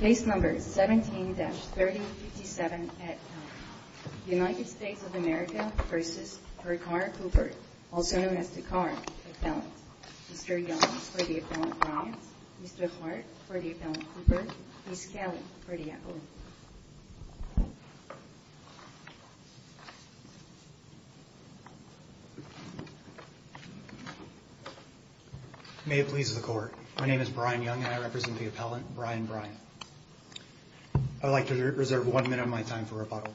Mr. Young for the appellant, Mr. Hart for the appellant, Ms. Kelly for the appellant. Brian Young May it please the Court, my name is Brian Young and I represent the appellant, Brian Bryant. I would like to reserve one minute of my time for rebuttal.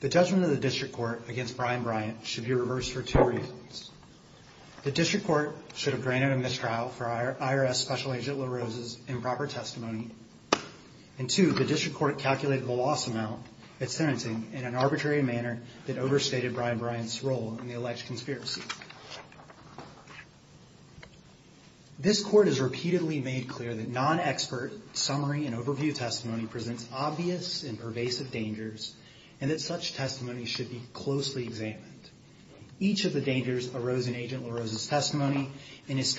The judgment of the District Court against Brian Bryant should be reversed for two reasons. The District Court should have granted a mistrial for IRS Special Agent LaRose's improper testimony. And two, the District Court calculated the loss amount at sentencing in an arbitrary manner that overstated Brian Bryant's role in the alleged conspiracy. This Court has repeatedly made clear that non-expert summary and overview testimony presents obvious and pervasive dangers and that such testimony should be closely examined. Each of the dangers arose in Agent LaRose's testimony and his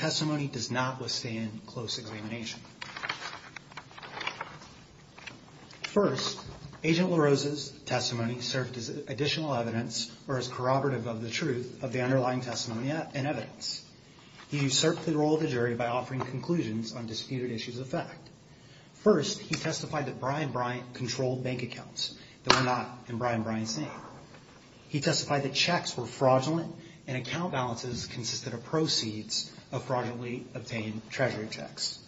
First, Agent LaRose's testimony served as additional evidence or as corroborative of the truth of the underlying testimony and evidence. He usurped the role of the jury by offering conclusions on disputed issues of fact. First, he testified that Brian Bryant controlled bank accounts that were not in Brian Bryant's name. He testified that checks were fraudulent and account balances consisted of proceeds of fraudulently obtained treasury checks.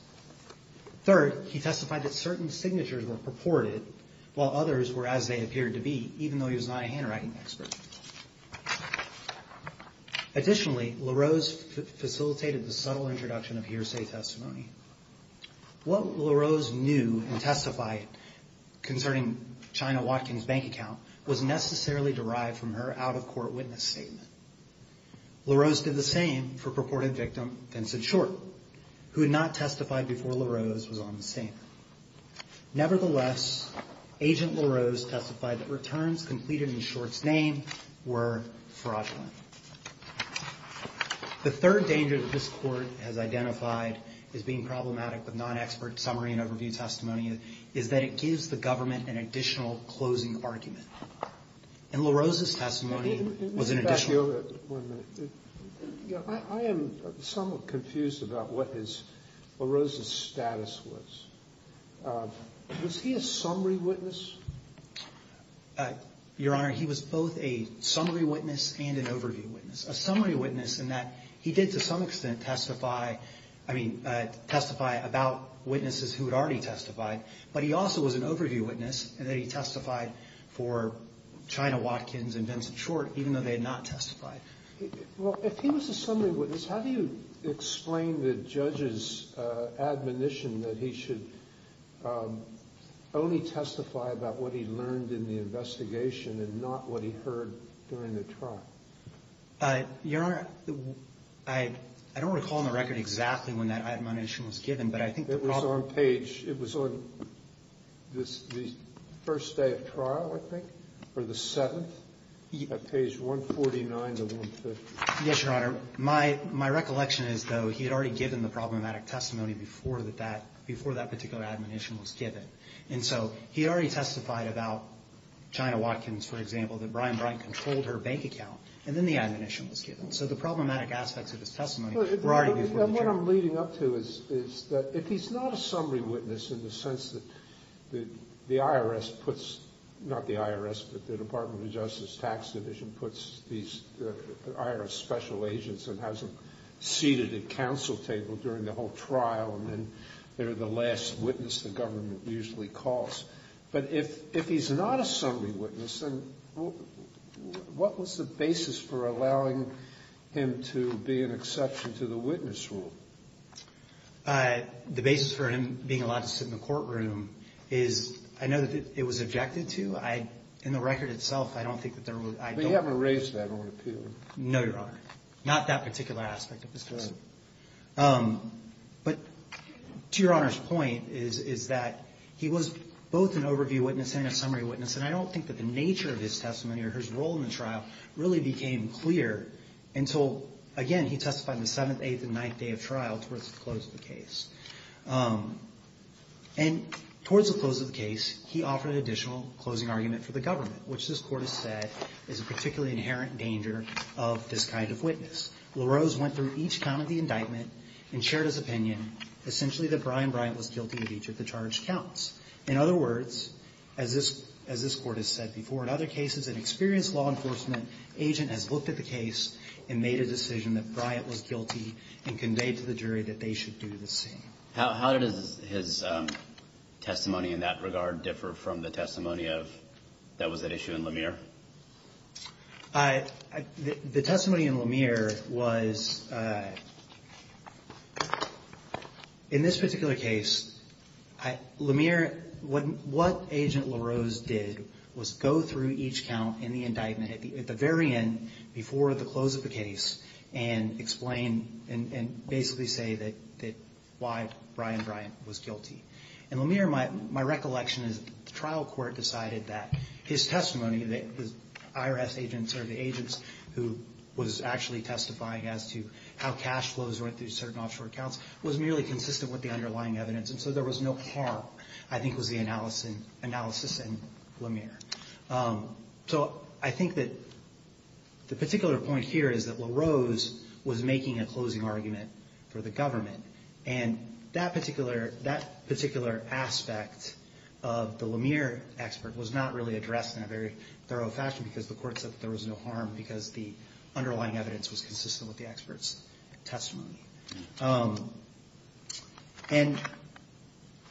Third, he testified that certain signatures were purported while others were as they appeared to be, even though he was not a handwriting expert. Additionally, LaRose facilitated the subtle introduction of hearsay testimony. What LaRose knew and testified concerning Chyna Watkins' bank account was necessarily derived from her out-of-court witness statement. LaRose did the same for purported victim Vincent Short, who had not testified before LaRose was on the scene. Nevertheless, Agent LaRose testified that returns completed in Short's name were fraudulent. The third danger that this Court has identified as being problematic with non-expert summary and overview testimony is that it gives the government an additional closing argument. And LaRose's testimony was an additional... I am somewhat confused about what LaRose's status was. Was he a summary witness? Your Honor, he was both a summary witness and an overview witness. A summary witness in that he did to some extent testify about witnesses who had already testified, but he also was an overview witness in that he testified for Chyna Watkins and Vincent Short, even though they had not testified. Well, if he was a summary witness, how do you explain the judge's admonition that he should only testify about what he learned in the investigation and not what he heard during the trial? Your Honor, I don't recall on the record exactly when that admonition was given, but I think the problem... It was on page – it was on the first day of trial, I think, or the seventh, at page 149 to 150. Yes, Your Honor. My recollection is, though, he had already given the problematic testimony before that particular admonition was given. And so he had already testified about Chyna Watkins, for example, that Brian Bryant controlled her bank account, and then the admonition was given. So the problematic aspects of his testimony were already before the jury. And what I'm leading up to is that if he's not a summary witness in the sense that the IRS puts – not the IRS, but the Department of Justice Tax Division puts these – the IRS special agents and has them seated at counsel table during the whole trial, and they're the last witness the government usually calls. But if he's not a summary witness, then what was the basis for allowing him to be an exception to the witness rule? The basis for him being allowed to sit in the courtroom is – I know that it was objected to. I – in the record itself, I don't think that there was – I don't... But you haven't raised that on appeal. No, Your Honor. Not that particular aspect of his testimony. But to Your Honor's point is that he was both an overview witness and a summary witness, and I don't think that the nature of his testimony or his role in the trial really became clear until, again, he testified on the seventh, eighth, and ninth day of trial towards the close of the case. And towards the close of the case, he offered an additional closing argument for the government, which this Court has said is a particularly inherent danger of this kind of witness. LaRose went through each count of the indictment and shared his opinion, essentially that Brian Bryant was guilty of each of the charged counts. In other words, as this – as this Court has said before, in other cases, an experienced law enforcement agent has looked at the case and made a decision that Bryant was guilty and conveyed to the jury that they should do the same. How does his testimony in that regard differ from the testimony of – that was at issue in Lemire? The testimony in Lemire was – in this particular case, Lemire – what – what Agent LaRose did was go through each count in the indictment at the – at the very end before the close of the case and explain and – and basically say that – that why Brian Bryant was guilty. In Lemire, my – my recollection is the trial court decided that his testimony, the IRS agents or the agents who was actually testifying as to how cash flows went through certain offshore accounts, was merely consistent with the underlying evidence. And so there was no harm, I think, was the analysis – analysis in Lemire. So I think that the particular point here is that LaRose was making a closing argument for the government. And that particular – that particular aspect of the expert was not really addressed in a very thorough fashion because the court said that there was no harm because the underlying evidence was consistent with the expert's testimony. And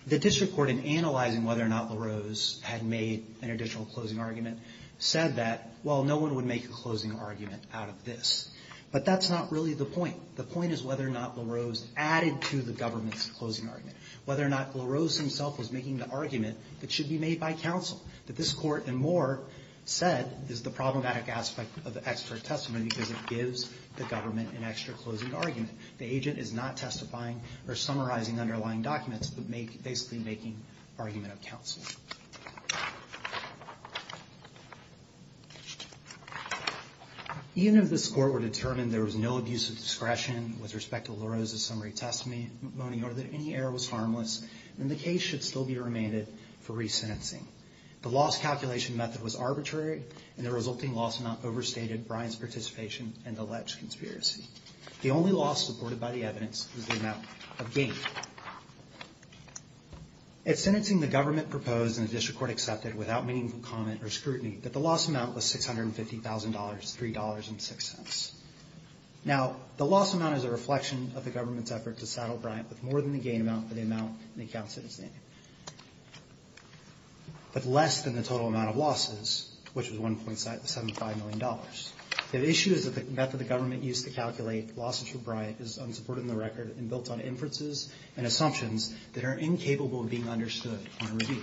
the district court, in analyzing whether or not LaRose had made an additional closing argument, said that, well, no one would make a closing argument out of this. But that's not really the point. The point is whether or not LaRose added to the government's closing argument, whether or not LaRose himself was making the argument that should be made by counsel, that this court and more said is the problematic aspect of the expert testimony because it gives the government an extra closing argument. The agent is not testifying or summarizing underlying documents but make – basically making argument of counsel. Even if this court were determined there was no abuse of discretion with respect to LaRose's summary testimony or that any error was harmless, then the case should still be remanded for re-sentencing. The loss calculation method was arbitrary and the resulting loss amount overstated Bryant's participation in the alleged conspiracy. The only loss supported by the evidence was the amount of gain. At sentencing, the government proposed and the district court accepted without meaningful comment or scrutiny that the loss amount was $650,000, $3.06. Now, the loss amount is a reflection of the government's effort to saddle Bryant with more than the gain amount for the amount in the counsel's name. But less than the total amount of losses, which was $1.75 million. The issue is that the method the government used to calculate losses for Bryant is unsupported in the record and built on inferences and assumptions that are incapable of being understood in a review.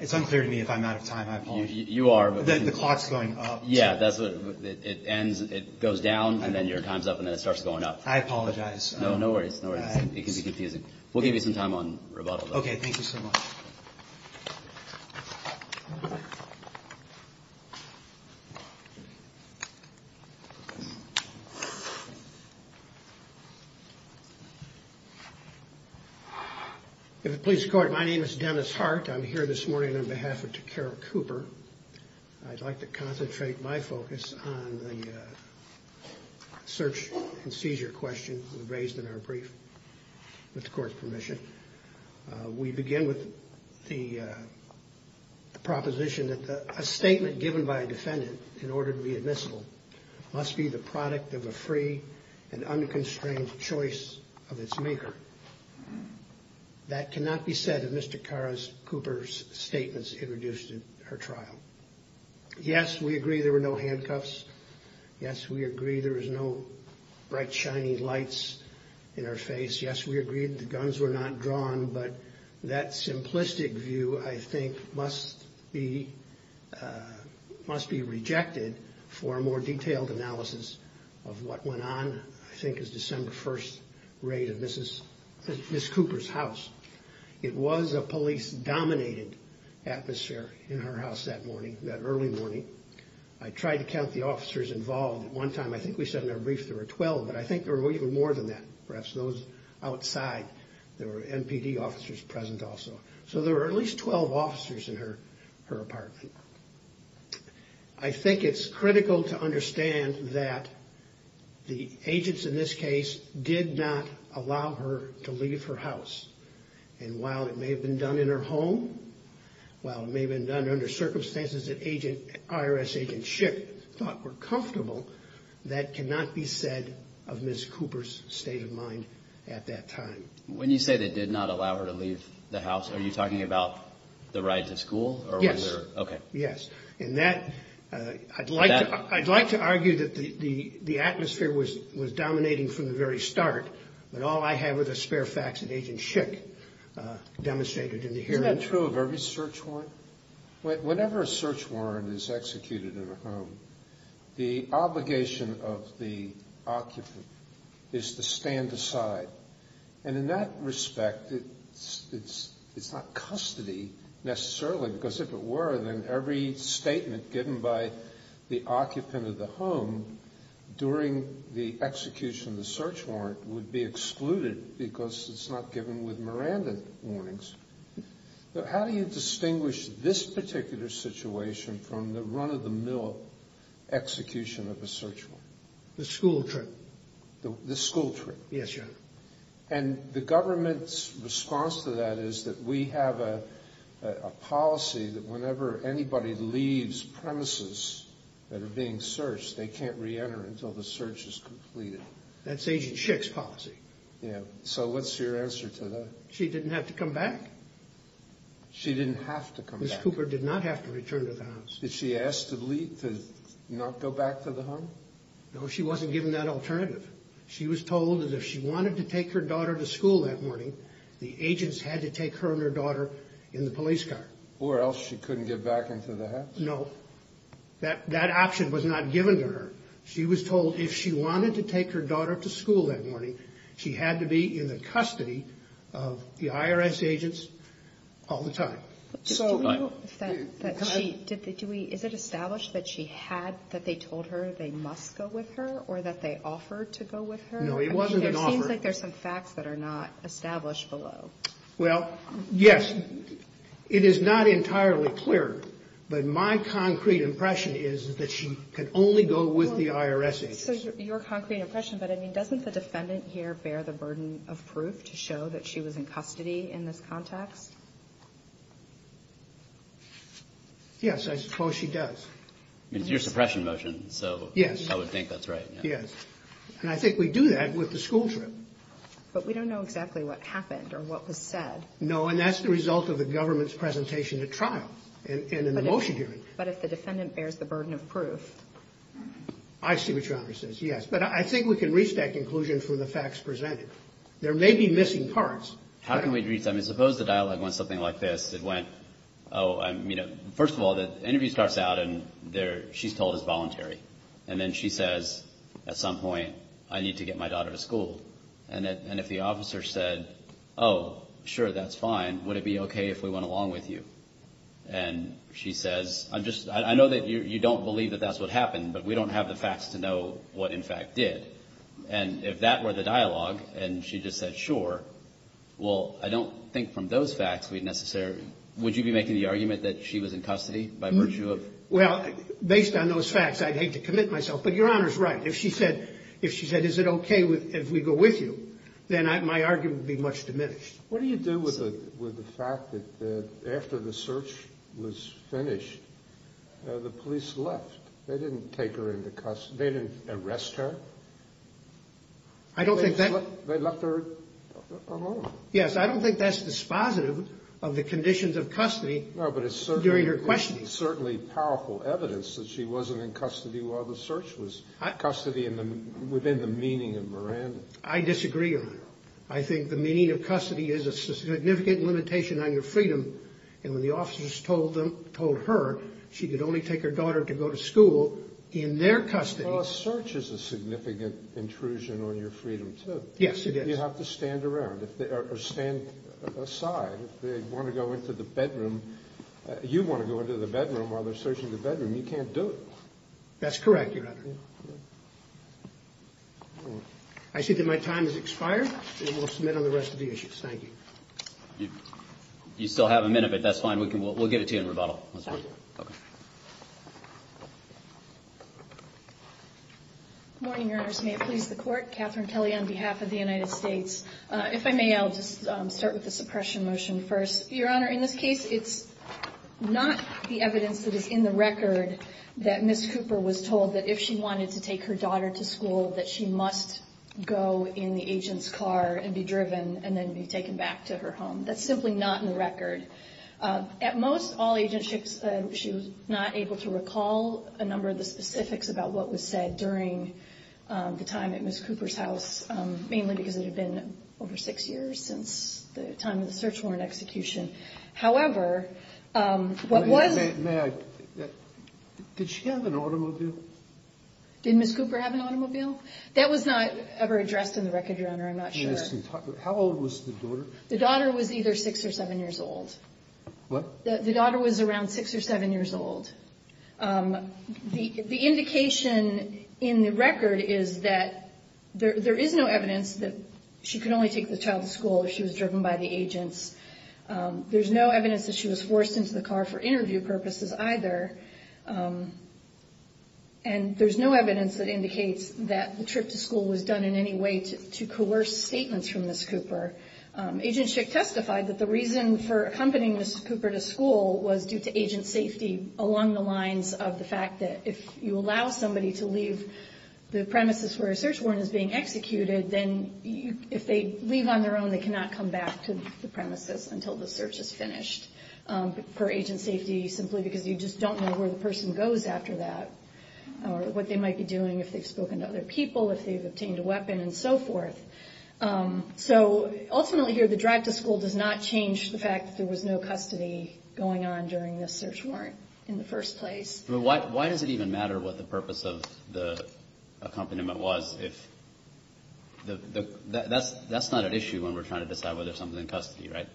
It's unclear to me if I'm out of time. You are. The clock's going up. Yeah, it goes down and then your time's up and then it starts going up. I apologize. No worries, no worries. It can be confusing. We'll give you some time on rebuttal. Okay, thank you so much. If it please the court, my name is Dennis Hart. I'm here this morning on behalf of Ta'Kara Cooper. I'd like to concentrate my focus on the search and seizure question raised in our brief, with the court's permission. We begin with the proposition that a statement given by a defendant in order to be admissible must be the product of a free and unconstrained choice of its maker. That cannot be said of Mr. Ta'Kara Cooper's statements introduced at her trial. Yes, we agree there were no handcuffs. Yes, we agree there was no bright, shiny lights in her face. Yes, we agree the guns were not drawn, but that simplistic view, I think, must be rejected for a more detailed analysis of what went on, I think, as December 1st raid of Mrs. Cooper's house. It was a police-dominated atmosphere in her house that morning, that early morning. I tried to count the officers involved. One time, I think we said in our brief there were 12, but I think there were even more than that. Perhaps those outside, there were MPD officers present also. So there were at least 12 officers in her apartment. I think it's critical to understand that the agents in this case did not allow her to leave her house. And while it may have been done in her home, while it may have been done under circumstances that IRS agents should have thought were comfortable, that cannot be said of Ms. Cooper's state of mind at that time. When you say they did not allow her to leave the house, are you talking about the rides at school? Yes. Okay. Yes. I'd like to argue that the atmosphere was dominating from the very start, but all I have are the spare facts that Agent Schick demonstrated in the hearing. Isn't that true of every search warrant? Whenever a search warrant is executed in a home, the obligation of the occupant is to stand aside. And in that respect, it's not custody necessarily, because if it were, then every statement given by the occupant of the home during the execution of the search warrant would be excluded because it's not given with Miranda warnings. So how do you distinguish this particular situation from the run-of-the-mill execution of a search warrant? The school trip. The school trip. Yes, Your Honor. And the government's response to that is that we have a policy that whenever anybody leaves premises that are being searched, they can't reenter until the search is completed. That's Agent Schick's policy. So what's your answer to that? She didn't have to come back. She didn't have to come back. Ms. Cooper did not have to return to the house. Did she ask to not go back to the home? No, she wasn't given that alternative. She was told that if she wanted to take her daughter to school that morning, the agents had to take her and her daughter in the police car. Or else she couldn't get back into the house? No. That option was not given to her. She was told if she wanted to take her daughter to school that morning, she had to be in the custody of the IRS agents all the time. Is it established that they told her they must go with her or that they offered to go with her? No, it wasn't an offer. It seems like there's some facts that are not established below. Well, yes. It is not entirely clear, but my concrete impression is that she could only go with the IRS agents. So your concrete impression, but, I mean, doesn't the defendant here bear the burden of proof to show that she was in custody in this context? Yes, I suppose she does. I mean, it's your suppression motion, so I would think that's right. Yes. And I think we do that with the school trip. But we don't know exactly what happened or what was said. No, and that's the result of the government's presentation at trial and in the motion hearing. But if the defendant bears the burden of proof. I see what your honor says, yes. But I think we can reach that conclusion from the facts presented. There may be missing parts. How can we reach that? I mean, suppose the dialogue went something like this. It went, oh, I'm, you know, first of all, the interview starts out and she's told it's voluntary. And then she says, at some point, I need to get my daughter to school. And if the officer said, oh, sure, that's fine, would it be okay if we went along with you? And she says, I know that you don't believe that that's what happened, but we don't have the facts to know what, in fact, did. And if that were the dialogue and she just said, sure, well, I don't think from those facts we'd necessarily, would you be making the argument that she was in custody by virtue of? Well, based on those facts, I'd hate to commit myself. But your honor's right. If she said, is it okay if we go with you, then my argument would be much diminished. What do you do with the fact that after the search was finished, the police left? They didn't take her into custody. They didn't arrest her? I don't think that. They left her alone. Yes, I don't think that's dispositive of the conditions of custody during her questioning. No, but it's certainly powerful evidence that she wasn't in custody while the search was. Custody within the meaning of Miranda. I disagree on that. I think the meaning of custody is a significant limitation on your freedom, and when the officers told her she could only take her daughter to go to school in their custody. Well, a search is a significant intrusion on your freedom, too. Yes, it is. You have to stand aside. If they want to go into the bedroom, you want to go into the bedroom while they're searching the bedroom. You can't do it. That's correct, your honor. I see that my time has expired, and we'll submit on the rest of the issues. Thank you. You still have a minute, but that's fine. We'll get it to you in rebuttal. Good morning, your honors. May it please the court. Catherine Kelly on behalf of the United States. If I may, I'll just start with the suppression motion first. Your honor, in this case, it's not the evidence that is in the record that Ms. Cooper was told that if she wanted to take her daughter to school, that she must go in the agent's car and be driven and then be taken back to her home. That's simply not in the record. At most all agents, she was not able to recall a number of the specifics about what was said during the time at Ms. Cooper's house, mainly because it had been over six years since the time of the search warrant execution. However, what was – May I – did she have an automobile? Did Ms. Cooper have an automobile? That was not ever addressed in the record, your honor. I'm not sure. How old was the daughter? The daughter was either six or seven years old. What? The daughter was around six or seven years old. The indication in the record is that there is no evidence that she could only take the child to school if she was driven by the agents. There's no evidence that she was forced into the car for interview purposes either. And there's no evidence that indicates that the trip to school was done in any way to coerce statements from Ms. Cooper. Agent Schick testified that the reason for accompanying Ms. Cooper to school was due to agent safety along the lines of the fact that if you allow somebody to leave the premises where a search warrant is being executed, then if they leave on their own, they cannot come back to the premises until the search is finished. For agent safety, simply because you just don't know where the person goes after that or what they might be doing, if they've spoken to other people, if they've obtained a weapon, and so forth. So ultimately here, the drive to school does not change the fact that there was no custody going on during this search warrant in the first place. But why does it even matter what the purpose of the accompaniment was if – that's not an issue when we're trying to decide whether or not there was something in custody, right?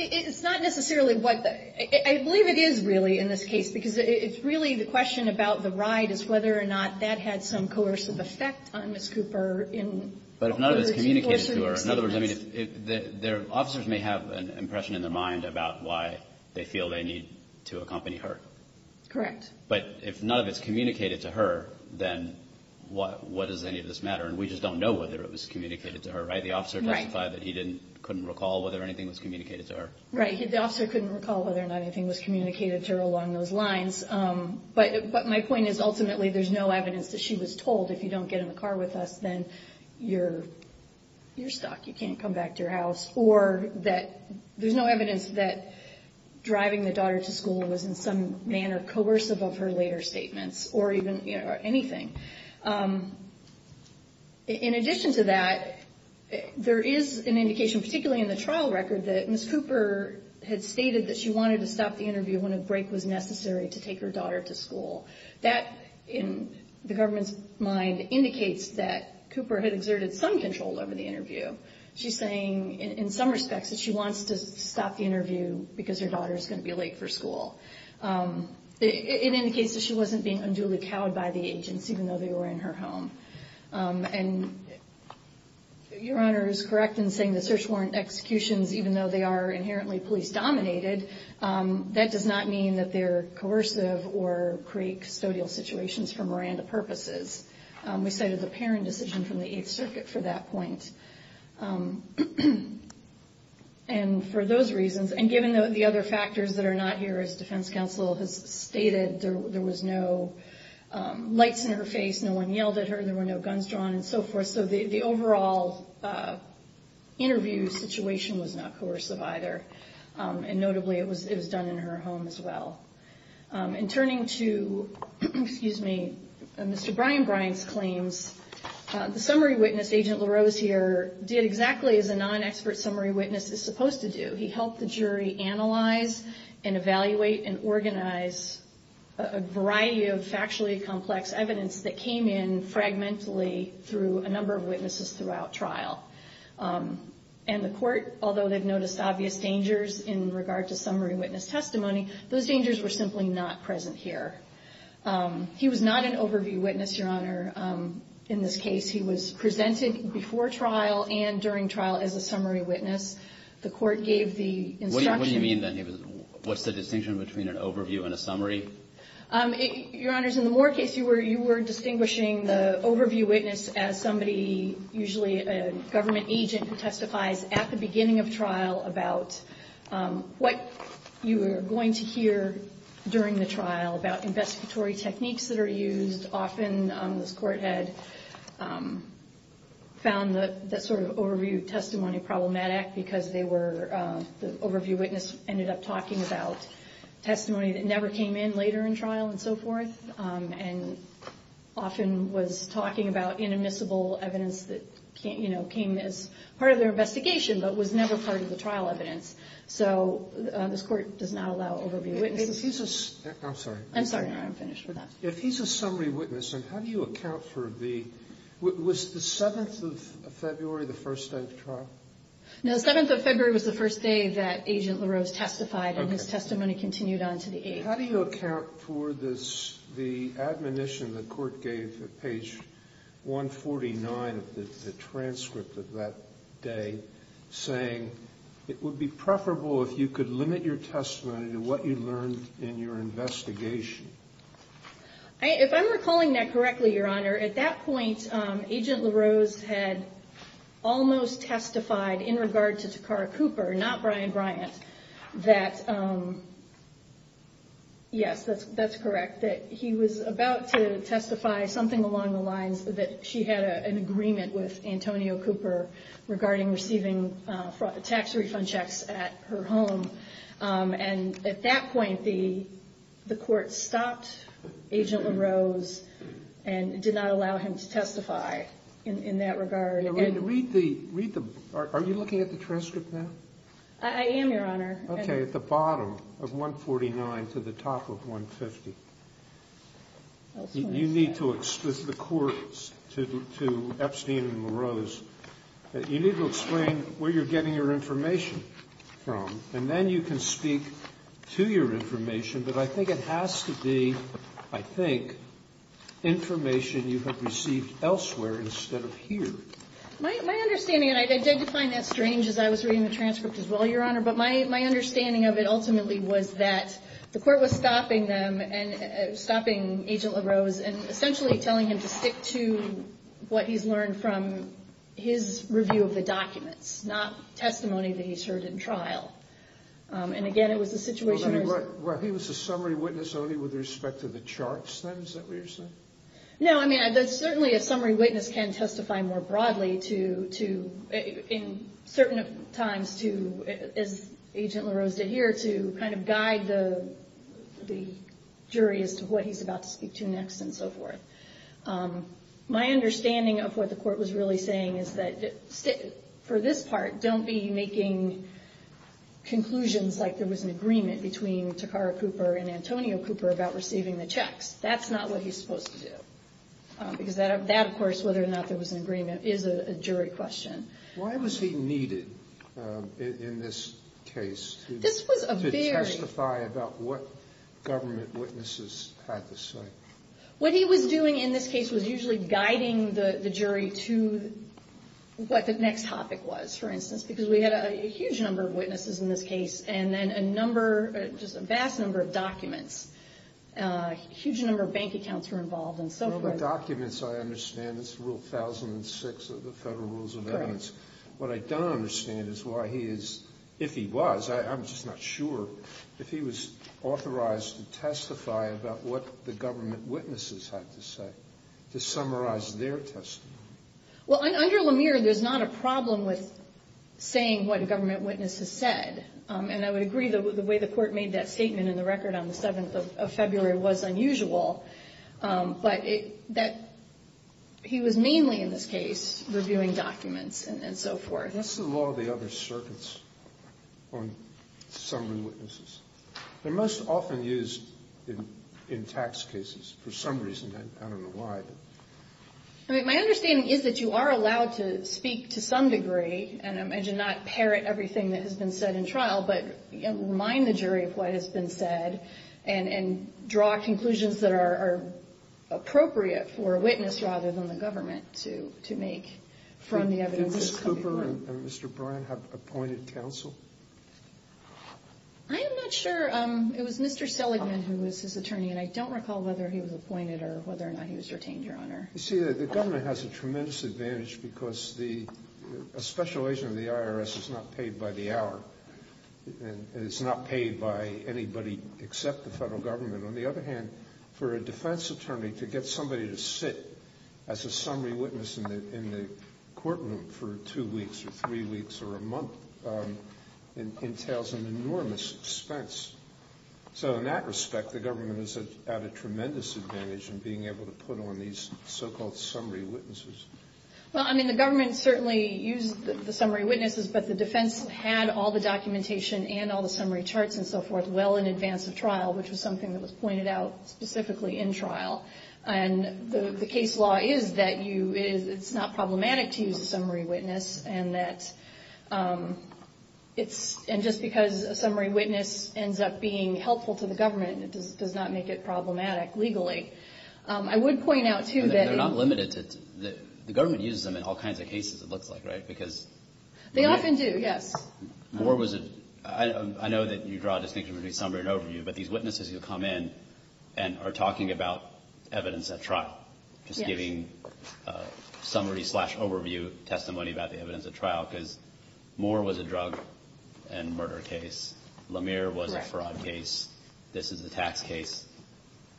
It's not necessarily what the – I believe it is really in this case because it's really the question about the ride is whether or not that had some coercive effect on Ms. Cooper in – But if none of it's communicated to her. In other words, I mean, the officers may have an impression in their mind about why they feel they need to accompany her. Correct. But if none of it's communicated to her, then what does any of this matter? And we just don't know whether it was communicated to her, right? The officer testified that he didn't – couldn't recall whether anything was communicated to her. Right. The officer couldn't recall whether or not anything was communicated to her along those lines. But my point is ultimately there's no evidence that she was told, if you don't get in the car with us, then you're stuck, you can't come back to your house. Or that there's no evidence that driving the daughter to school was in some manner coercive of her later statements or even anything. In addition to that, there is an indication, particularly in the trial record, that Ms. Cooper had stated that she wanted to stop the interview when a break was necessary to take her daughter to school. That, in the government's mind, indicates that Cooper had exerted some control over the interview. She's saying in some respects that she wants to stop the interview because her daughter is going to be late for school. It indicates that she wasn't being unduly cowed by the agents, even though they were in her home. And Your Honor is correct in saying the search warrant executions, even though they are inherently police-dominated, that does not mean that they're coercive or create custodial situations for Miranda purposes. We cited the Perron decision from the Eighth Circuit for that point. And for those reasons, and given the other factors that are not here, as Defense Counsel has stated, there was no lights in her face, no one yelled at her, there were no guns drawn and so forth. So the overall interview situation was not coercive either. And notably, it was done in her home as well. And turning to Mr. Brian Bryant's claims, the summary witness, Agent LaRose here, did exactly as a non-expert summary witness is supposed to do. He helped the jury analyze and evaluate and organize a variety of factually complex evidence that came in fragmentally through a number of witnesses throughout trial. And the court, although they've noticed obvious dangers in regard to summary witness testimony, those dangers were simply not present here. He was not an overview witness, Your Honor. In this case, he was presented before trial and during trial as a summary witness. The court gave the instruction. What do you mean then? What's the distinction between an overview and a summary? Your Honors, in the Moore case, you were distinguishing the overview witness as somebody, usually a government agent who testifies at the beginning of trial about what you were going to hear during the trial about investigatory techniques that are used. Often, this court had found that sort of overview testimony problematic because they were, the overview witness ended up talking about testimony that never came in later in trial and so forth, and often was talking about inadmissible evidence that came as part of their investigation but was never part of the trial evidence. So this court does not allow overview witnesses. I'm sorry. I'm sorry, Your Honor. I'm finished with that. If he's a summary witness, then how do you account for the, was the 7th of February the first day of trial? No, the 7th of February was the first day that Agent LaRose testified and his testimony continued on to the 8th. How do you account for the admonition the court gave at page 149 of the transcript of that day, saying it would be preferable if you could limit your testimony to what you learned in your investigation? If I'm recalling that correctly, Your Honor, at that point, Agent LaRose had almost testified in regard to Takara Cooper, not Brian Bryant, that, yes, that's correct, that he was about to testify something along the lines that she had an agreement with Antonio Cooper regarding receiving tax refund checks at her home. And at that point, the court stopped Agent LaRose and did not allow him to testify in that regard. Read the, are you looking at the transcript now? I am, Your Honor. Okay, at the bottom of 149 to the top of 150. You need to explain to the courts, to Epstein and LaRose, you need to explain where you're getting your information from, and then you can speak to your information. But I think it has to be, I think, information you have received elsewhere instead of here. My understanding, and I did find that strange as I was reading the transcript as well, Your Honor, but my understanding of it ultimately was that the court was stopping them and stopping Agent LaRose and essentially telling him to stick to what he's learned from his review of the documents, not testimony that he's heard in trial. And again, it was a situation where he was a summary witness only with respect to the charts then, is that what you're saying? No, I mean, certainly a summary witness can testify more broadly to, in certain times to, as Agent LaRose did here, to kind of guide the jury as to what he's about to speak to next and so forth. My understanding of what the court was really saying is that for this part, don't be making conclusions like there was an agreement between Takara Cooper and Antonio Cooper about receiving the checks. That's not what he's supposed to do because that, of course, whether or not there was an agreement, is a jury question. Why was he needed in this case to testify about what government witnesses had to say? What he was doing in this case was usually guiding the jury to what the next topic was, for instance, because we had a huge number of witnesses in this case and then a number, just a vast number of documents, a huge number of bank accounts were involved and so forth. Well, the documents, I understand. It's Rule 1006 of the Federal Rules of Evidence. What I don't understand is why he is, if he was, I'm just not sure, if he was authorized to testify about what the government witnesses had to say to summarize their testimony. Well, under Lemire, there's not a problem with saying what a government witness has said. And I would agree the way the Court made that statement in the record on the 7th of February was unusual, but that he was mainly in this case reviewing documents and so forth. What's the law of the other circuits on summary witnesses? They're most often used in tax cases for some reason. I don't know why. I mean, my understanding is that you are allowed to speak to some degree, and I did not parrot everything that has been said in trial, but remind the jury of what has been said and draw conclusions that are appropriate for a witness rather than the government to make from the evidence that's coming forward. Do Ms. Cooper and Mr. Bryan have appointed counsel? I am not sure. It was Mr. Seligman who was his attorney, and I don't recall whether he was appointed or whether or not he was retained, Your Honor. You see, the government has a tremendous advantage because a special agent of the IRS is not paid by the hour, and it's not paid by anybody except the federal government. On the other hand, for a defense attorney to get somebody to sit as a summary witness in the courtroom for two weeks or three weeks or a month entails an enormous expense. So in that respect, the government is at a tremendous advantage in being able to put on these so-called summary witnesses. Well, I mean, the government certainly used the summary witnesses, but the defense had all the documentation and all the summary charts and so forth well in advance of trial, which was something that was pointed out specifically in trial. And the case law is that it's not problematic to use a summary witness, and that it's – and just because a summary witness ends up being helpful to the government, it does not make it problematic legally. I would point out, too, that in – But they're not limited to – the government uses them in all kinds of cases, it looks like, right? Because – They often do, yes. More was – I know that you draw a distinction between summary and overview, but these witnesses who come in and are talking about evidence at trial, just giving summary-slash-overview testimony about the evidence at trial, because More was a drug and murder case. Lamere was a fraud case. This is a tax case.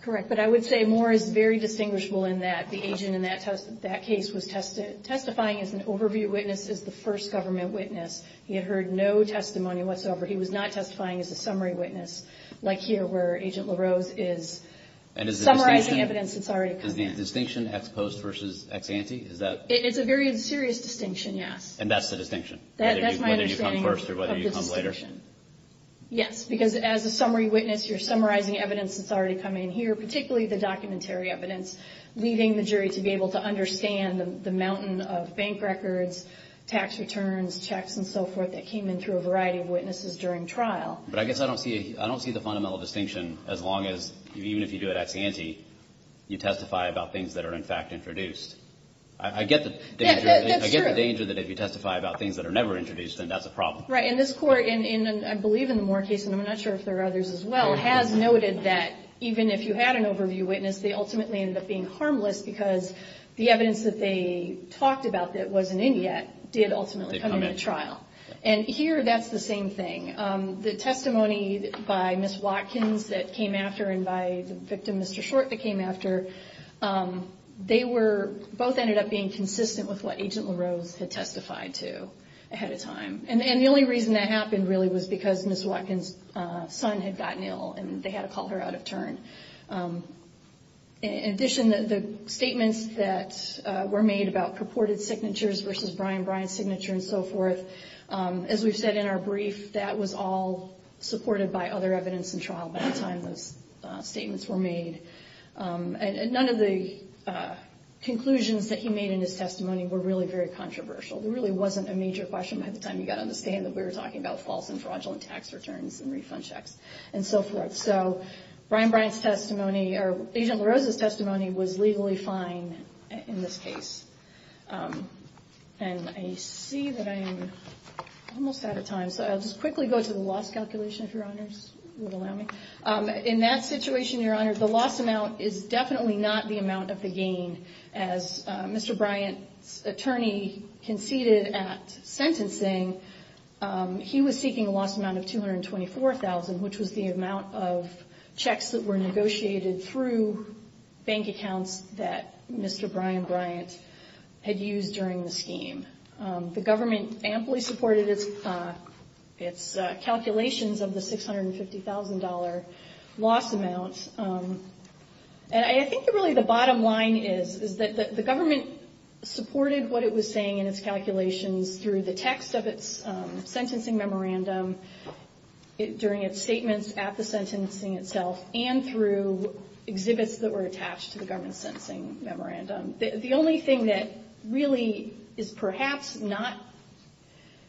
Correct. But I would say More is very distinguishable in that the agent in that case was testifying as an overview witness, as the first government witness. He had heard no testimony whatsoever. He was not testifying as a summary witness, like here, where Agent LaRose is summarizing evidence that's already come in. Is the distinction ex post versus ex ante? Is that – It's a very serious distinction, yes. And that's the distinction? That's my understanding of the distinction. Whether you come first or whether you come later? Yes, because as a summary witness, you're summarizing evidence that's already come in here, particularly the documentary evidence, leaving the jury to be able to understand the mountain of bank records, tax returns, checks, and so forth, that came in through a variety of witnesses during trial. But I guess I don't see the fundamental distinction as long as, even if you do it ex ante, you testify about things that are, in fact, introduced. I get the danger that if you testify about things that are never introduced, then that's a problem. Right. And this Court, and I believe in the More case, and I'm not sure if there are others as well, has noted that even if you had an overview witness, they ultimately ended up being harmless because the evidence that they talked about that wasn't in yet did ultimately come into trial. And here, that's the same thing. The testimony by Ms. Watkins that came after and by the victim, Mr. Short, that came after, they were both ended up being consistent with what Agent LaRose had testified to ahead of time. And the only reason that happened, really, was because Ms. Watkins' son had gotten ill and they had to call her out of turn. In addition, the statements that were made about purported signatures versus Brian Bryant's signature and so forth, as we've said in our brief, that was all supported by other evidence in trial by the time those statements were made. And none of the conclusions that he made in his testimony were really very controversial. There really wasn't a major question by the time he got on the stand that we were talking about false and fraudulent tax returns and refund checks and so forth. So Brian Bryant's testimony, or Agent LaRose's testimony, was legally fine in this case. And I see that I'm almost out of time, so I'll just quickly go to the loss calculation, if Your Honors would allow me. In that situation, Your Honors, the loss amount is definitely not the amount of the gain. As Mr. Bryant's attorney conceded at sentencing, he was seeking a loss amount of $224,000, which was the amount of checks that were negotiated through bank accounts that Mr. Brian Bryant had used during the scheme. The government amply supported its calculations of the $650,000 loss amount. And I think really the bottom line is that the government supported what it was saying in its calculations through the text of its sentencing memorandum, during its statements at the sentencing itself, and through exhibits that were attached to the government's sentencing memorandum. The only thing that really is perhaps not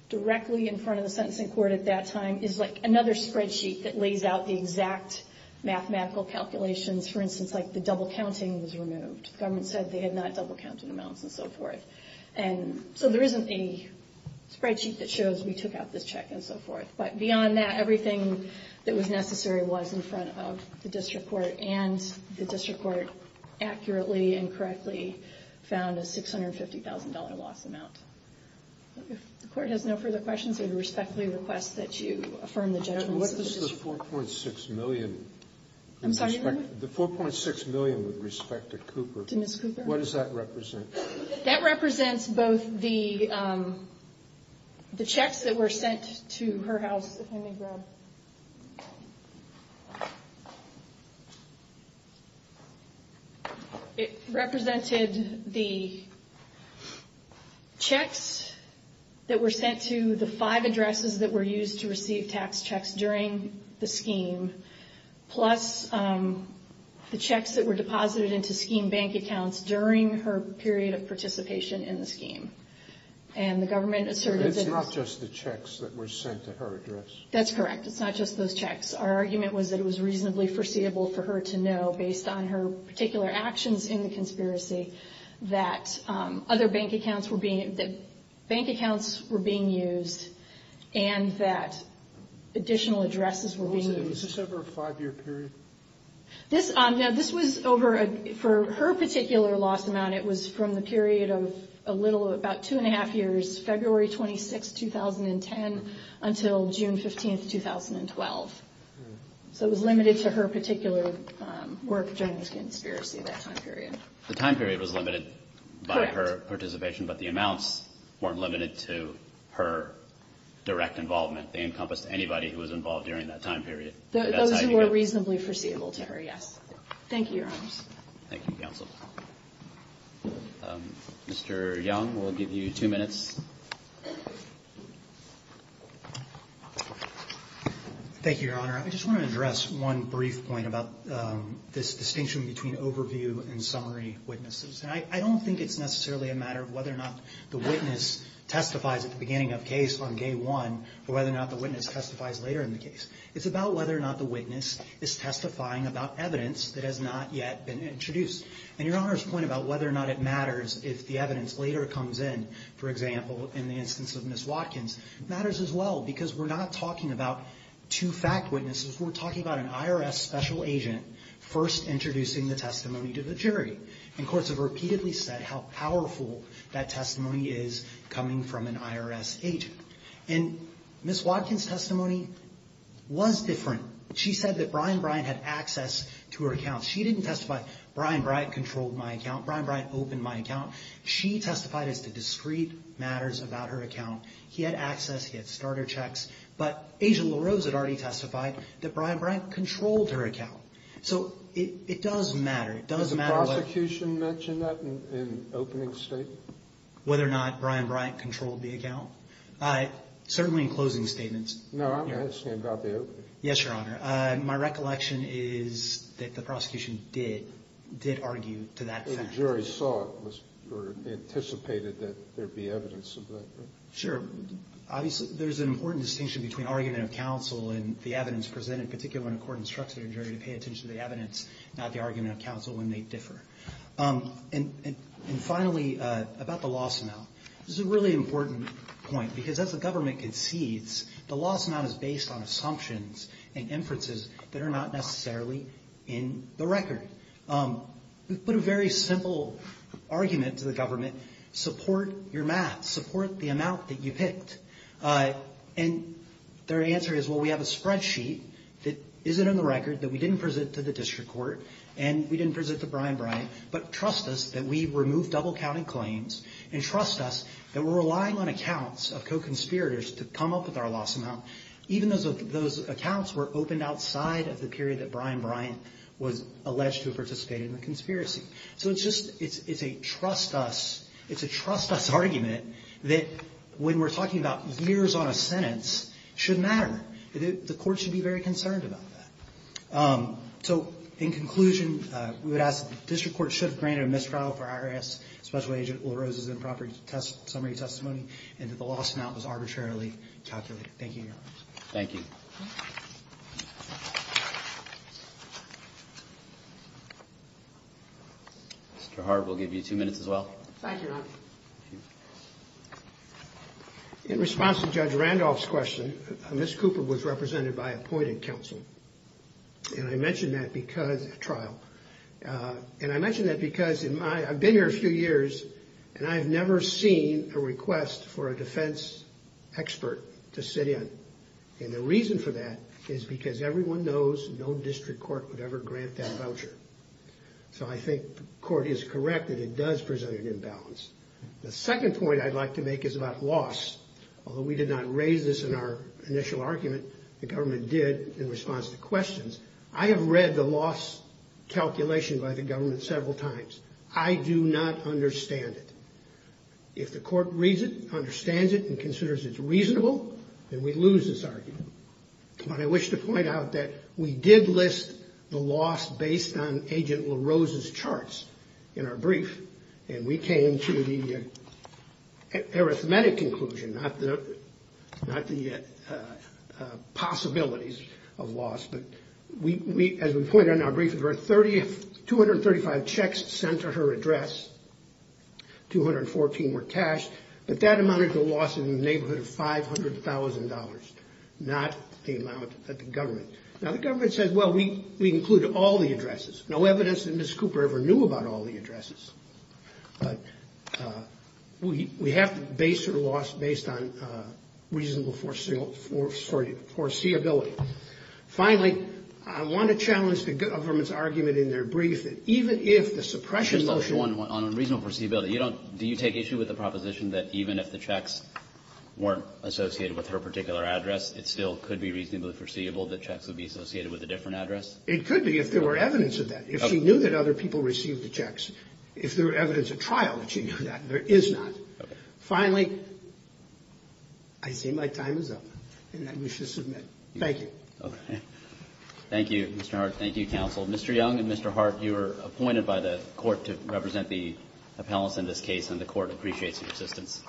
directly in front of the sentencing court at that time is another spreadsheet that lays out the exact mathematical calculations. For instance, the double counting was removed. The government said they had not double counted amounts and so forth. So there isn't a spreadsheet that shows we took out this check and so forth. But beyond that, everything that was necessary was in front of the district court, and the district court accurately and correctly found a $650,000 loss amount. If the court has no further questions, I would respectfully request that you affirm the judgments of the district court. What does the $4.6 million with respect to Cooper, what does that represent? That represents both the checks that were sent to her house. It represented the checks that were sent to the five addresses that were used to receive tax checks during the scheme, plus the checks that were deposited into scheme bank accounts during her period of participation in the scheme. It's not just the checks that were sent to her address. That's correct. It's not just those checks. Our argument was that it was reasonably foreseeable for her to know, based on her particular actions in the conspiracy, Is this over a five-year period? No, this was over a, for her particular loss amount, it was from the period of about two and a half years, February 26, 2010, until June 15, 2012. So it was limited to her particular work during the conspiracy, that time period. The time period was limited by her participation, but the amounts weren't limited to her direct involvement. They encompassed anybody who was involved during that time period. Those who were reasonably foreseeable to her, yes. Thank you, Your Honor. Thank you, counsel. Mr. Young, we'll give you two minutes. Thank you, Your Honor. I just want to address one brief point about this distinction between overview and summary witnesses. And I don't think it's necessarily a matter of whether or not the witness testifies at the beginning of a case on day one, or whether or not the witness testifies later in the case. It's about whether or not the witness is testifying about evidence that has not yet been introduced. And Your Honor's point about whether or not it matters if the evidence later comes in, for example, in the instance of Ms. Watkins, matters as well, because we're not talking about two fact witnesses. We're talking about an IRS special agent first introducing the testimony to the jury. And courts have repeatedly said how powerful that testimony is coming from an IRS agent. And Ms. Watkins' testimony was different. She said that Brian Bryant had access to her account. She didn't testify, Brian Bryant controlled my account. Brian Bryant opened my account. She testified as to discrete matters about her account. He had access. He had starter checks. But Agent LaRose had already testified that Brian Bryant controlled her account. So it does matter. It does matter whether the prosecution mentioned that in opening statement? Whether or not Brian Bryant controlled the account? Certainly in closing statements. No, I'm asking about the opening. Yes, Your Honor. My recollection is that the prosecution did, did argue to that fact. But the jury saw it or anticipated that there would be evidence of that, right? Sure. Obviously, there's an important distinction between argument of counsel and the evidence presented, particularly when a court instructs a jury to pay attention to the evidence, not the argument of counsel when they differ. And finally, about the loss amount. This is a really important point, because as the government concedes, the loss amount is based on assumptions and inferences that are not necessarily in the record. We've put a very simple argument to the government, support your math. Support the amount that you picked. And their answer is, well, we have a spreadsheet that isn't in the record, that we didn't present to the district court, and we didn't present to Brian Bryant, but trust us that we've removed double-counted claims, and trust us that we're relying on accounts of co-conspirators to come up with our loss amount, even though those accounts were opened outside of the period that Brian Bryant was alleged to have participated in the conspiracy. So it's just, it's a trust us, it's a trust us argument that when we're talking about years on a sentence, it should matter. The court should be very concerned about that. So in conclusion, we would ask that the district court should have granted a mistrial for IRS Special Agent LaRose's improper summary testimony, and that the loss amount was arbitrarily calculated. Thank you, Your Honors. Thank you. Mr. Hart, we'll give you two minutes as well. Thank you, Your Honor. In response to Judge Randolph's question, Ms. Cooper was represented by appointed counsel, and I mention that because, trial, and I mention that because I've been here a few years, and I've never seen a request for a defense expert to sit in, and the reason for that is because everyone knows no district court would ever grant that voucher. So I think the court is correct that it does present an imbalance. The second point I'd like to make is about loss. Although we did not raise this in our initial argument, the government did in response to questions. I have read the loss calculation by the government several times. I do not understand it. If the court reads it, understands it, and considers it reasonable, then we lose this argument. But I wish to point out that we did list the loss based on Agent LaRose's charts in our brief, and we came to the arithmetic conclusion, not the possibilities of loss. But as we point out in our brief, there were 235 checks sent to her address, 214 were cash, but that amounted to a loss in the neighborhood of $500,000, not the amount that the government. Now, the government says, well, we included all the addresses. No evidence that Ms. Cooper ever knew about all the addresses. But we have to base her loss based on reasonable foreseeability. Finally, I want to challenge the government's argument in their brief that even if the suppression motion. Kagan on reasonable foreseeability, you don't do you take issue with the proposition that even if the checks weren't associated with her particular address, it still could be reasonably foreseeable that checks would be associated with a different address? It could be if there were evidence of that. If she knew that other people received the checks. If there were evidence at trial that she knew that. There is not. Finally, I say my time is up, and I wish to submit. Thank you. Roberts. Thank you, Mr. Hart. Thank you, counsel. Mr. Young and Mr. Hart, you are appointed by the Court to represent the appellants in this case, and the Court appreciates your assistance.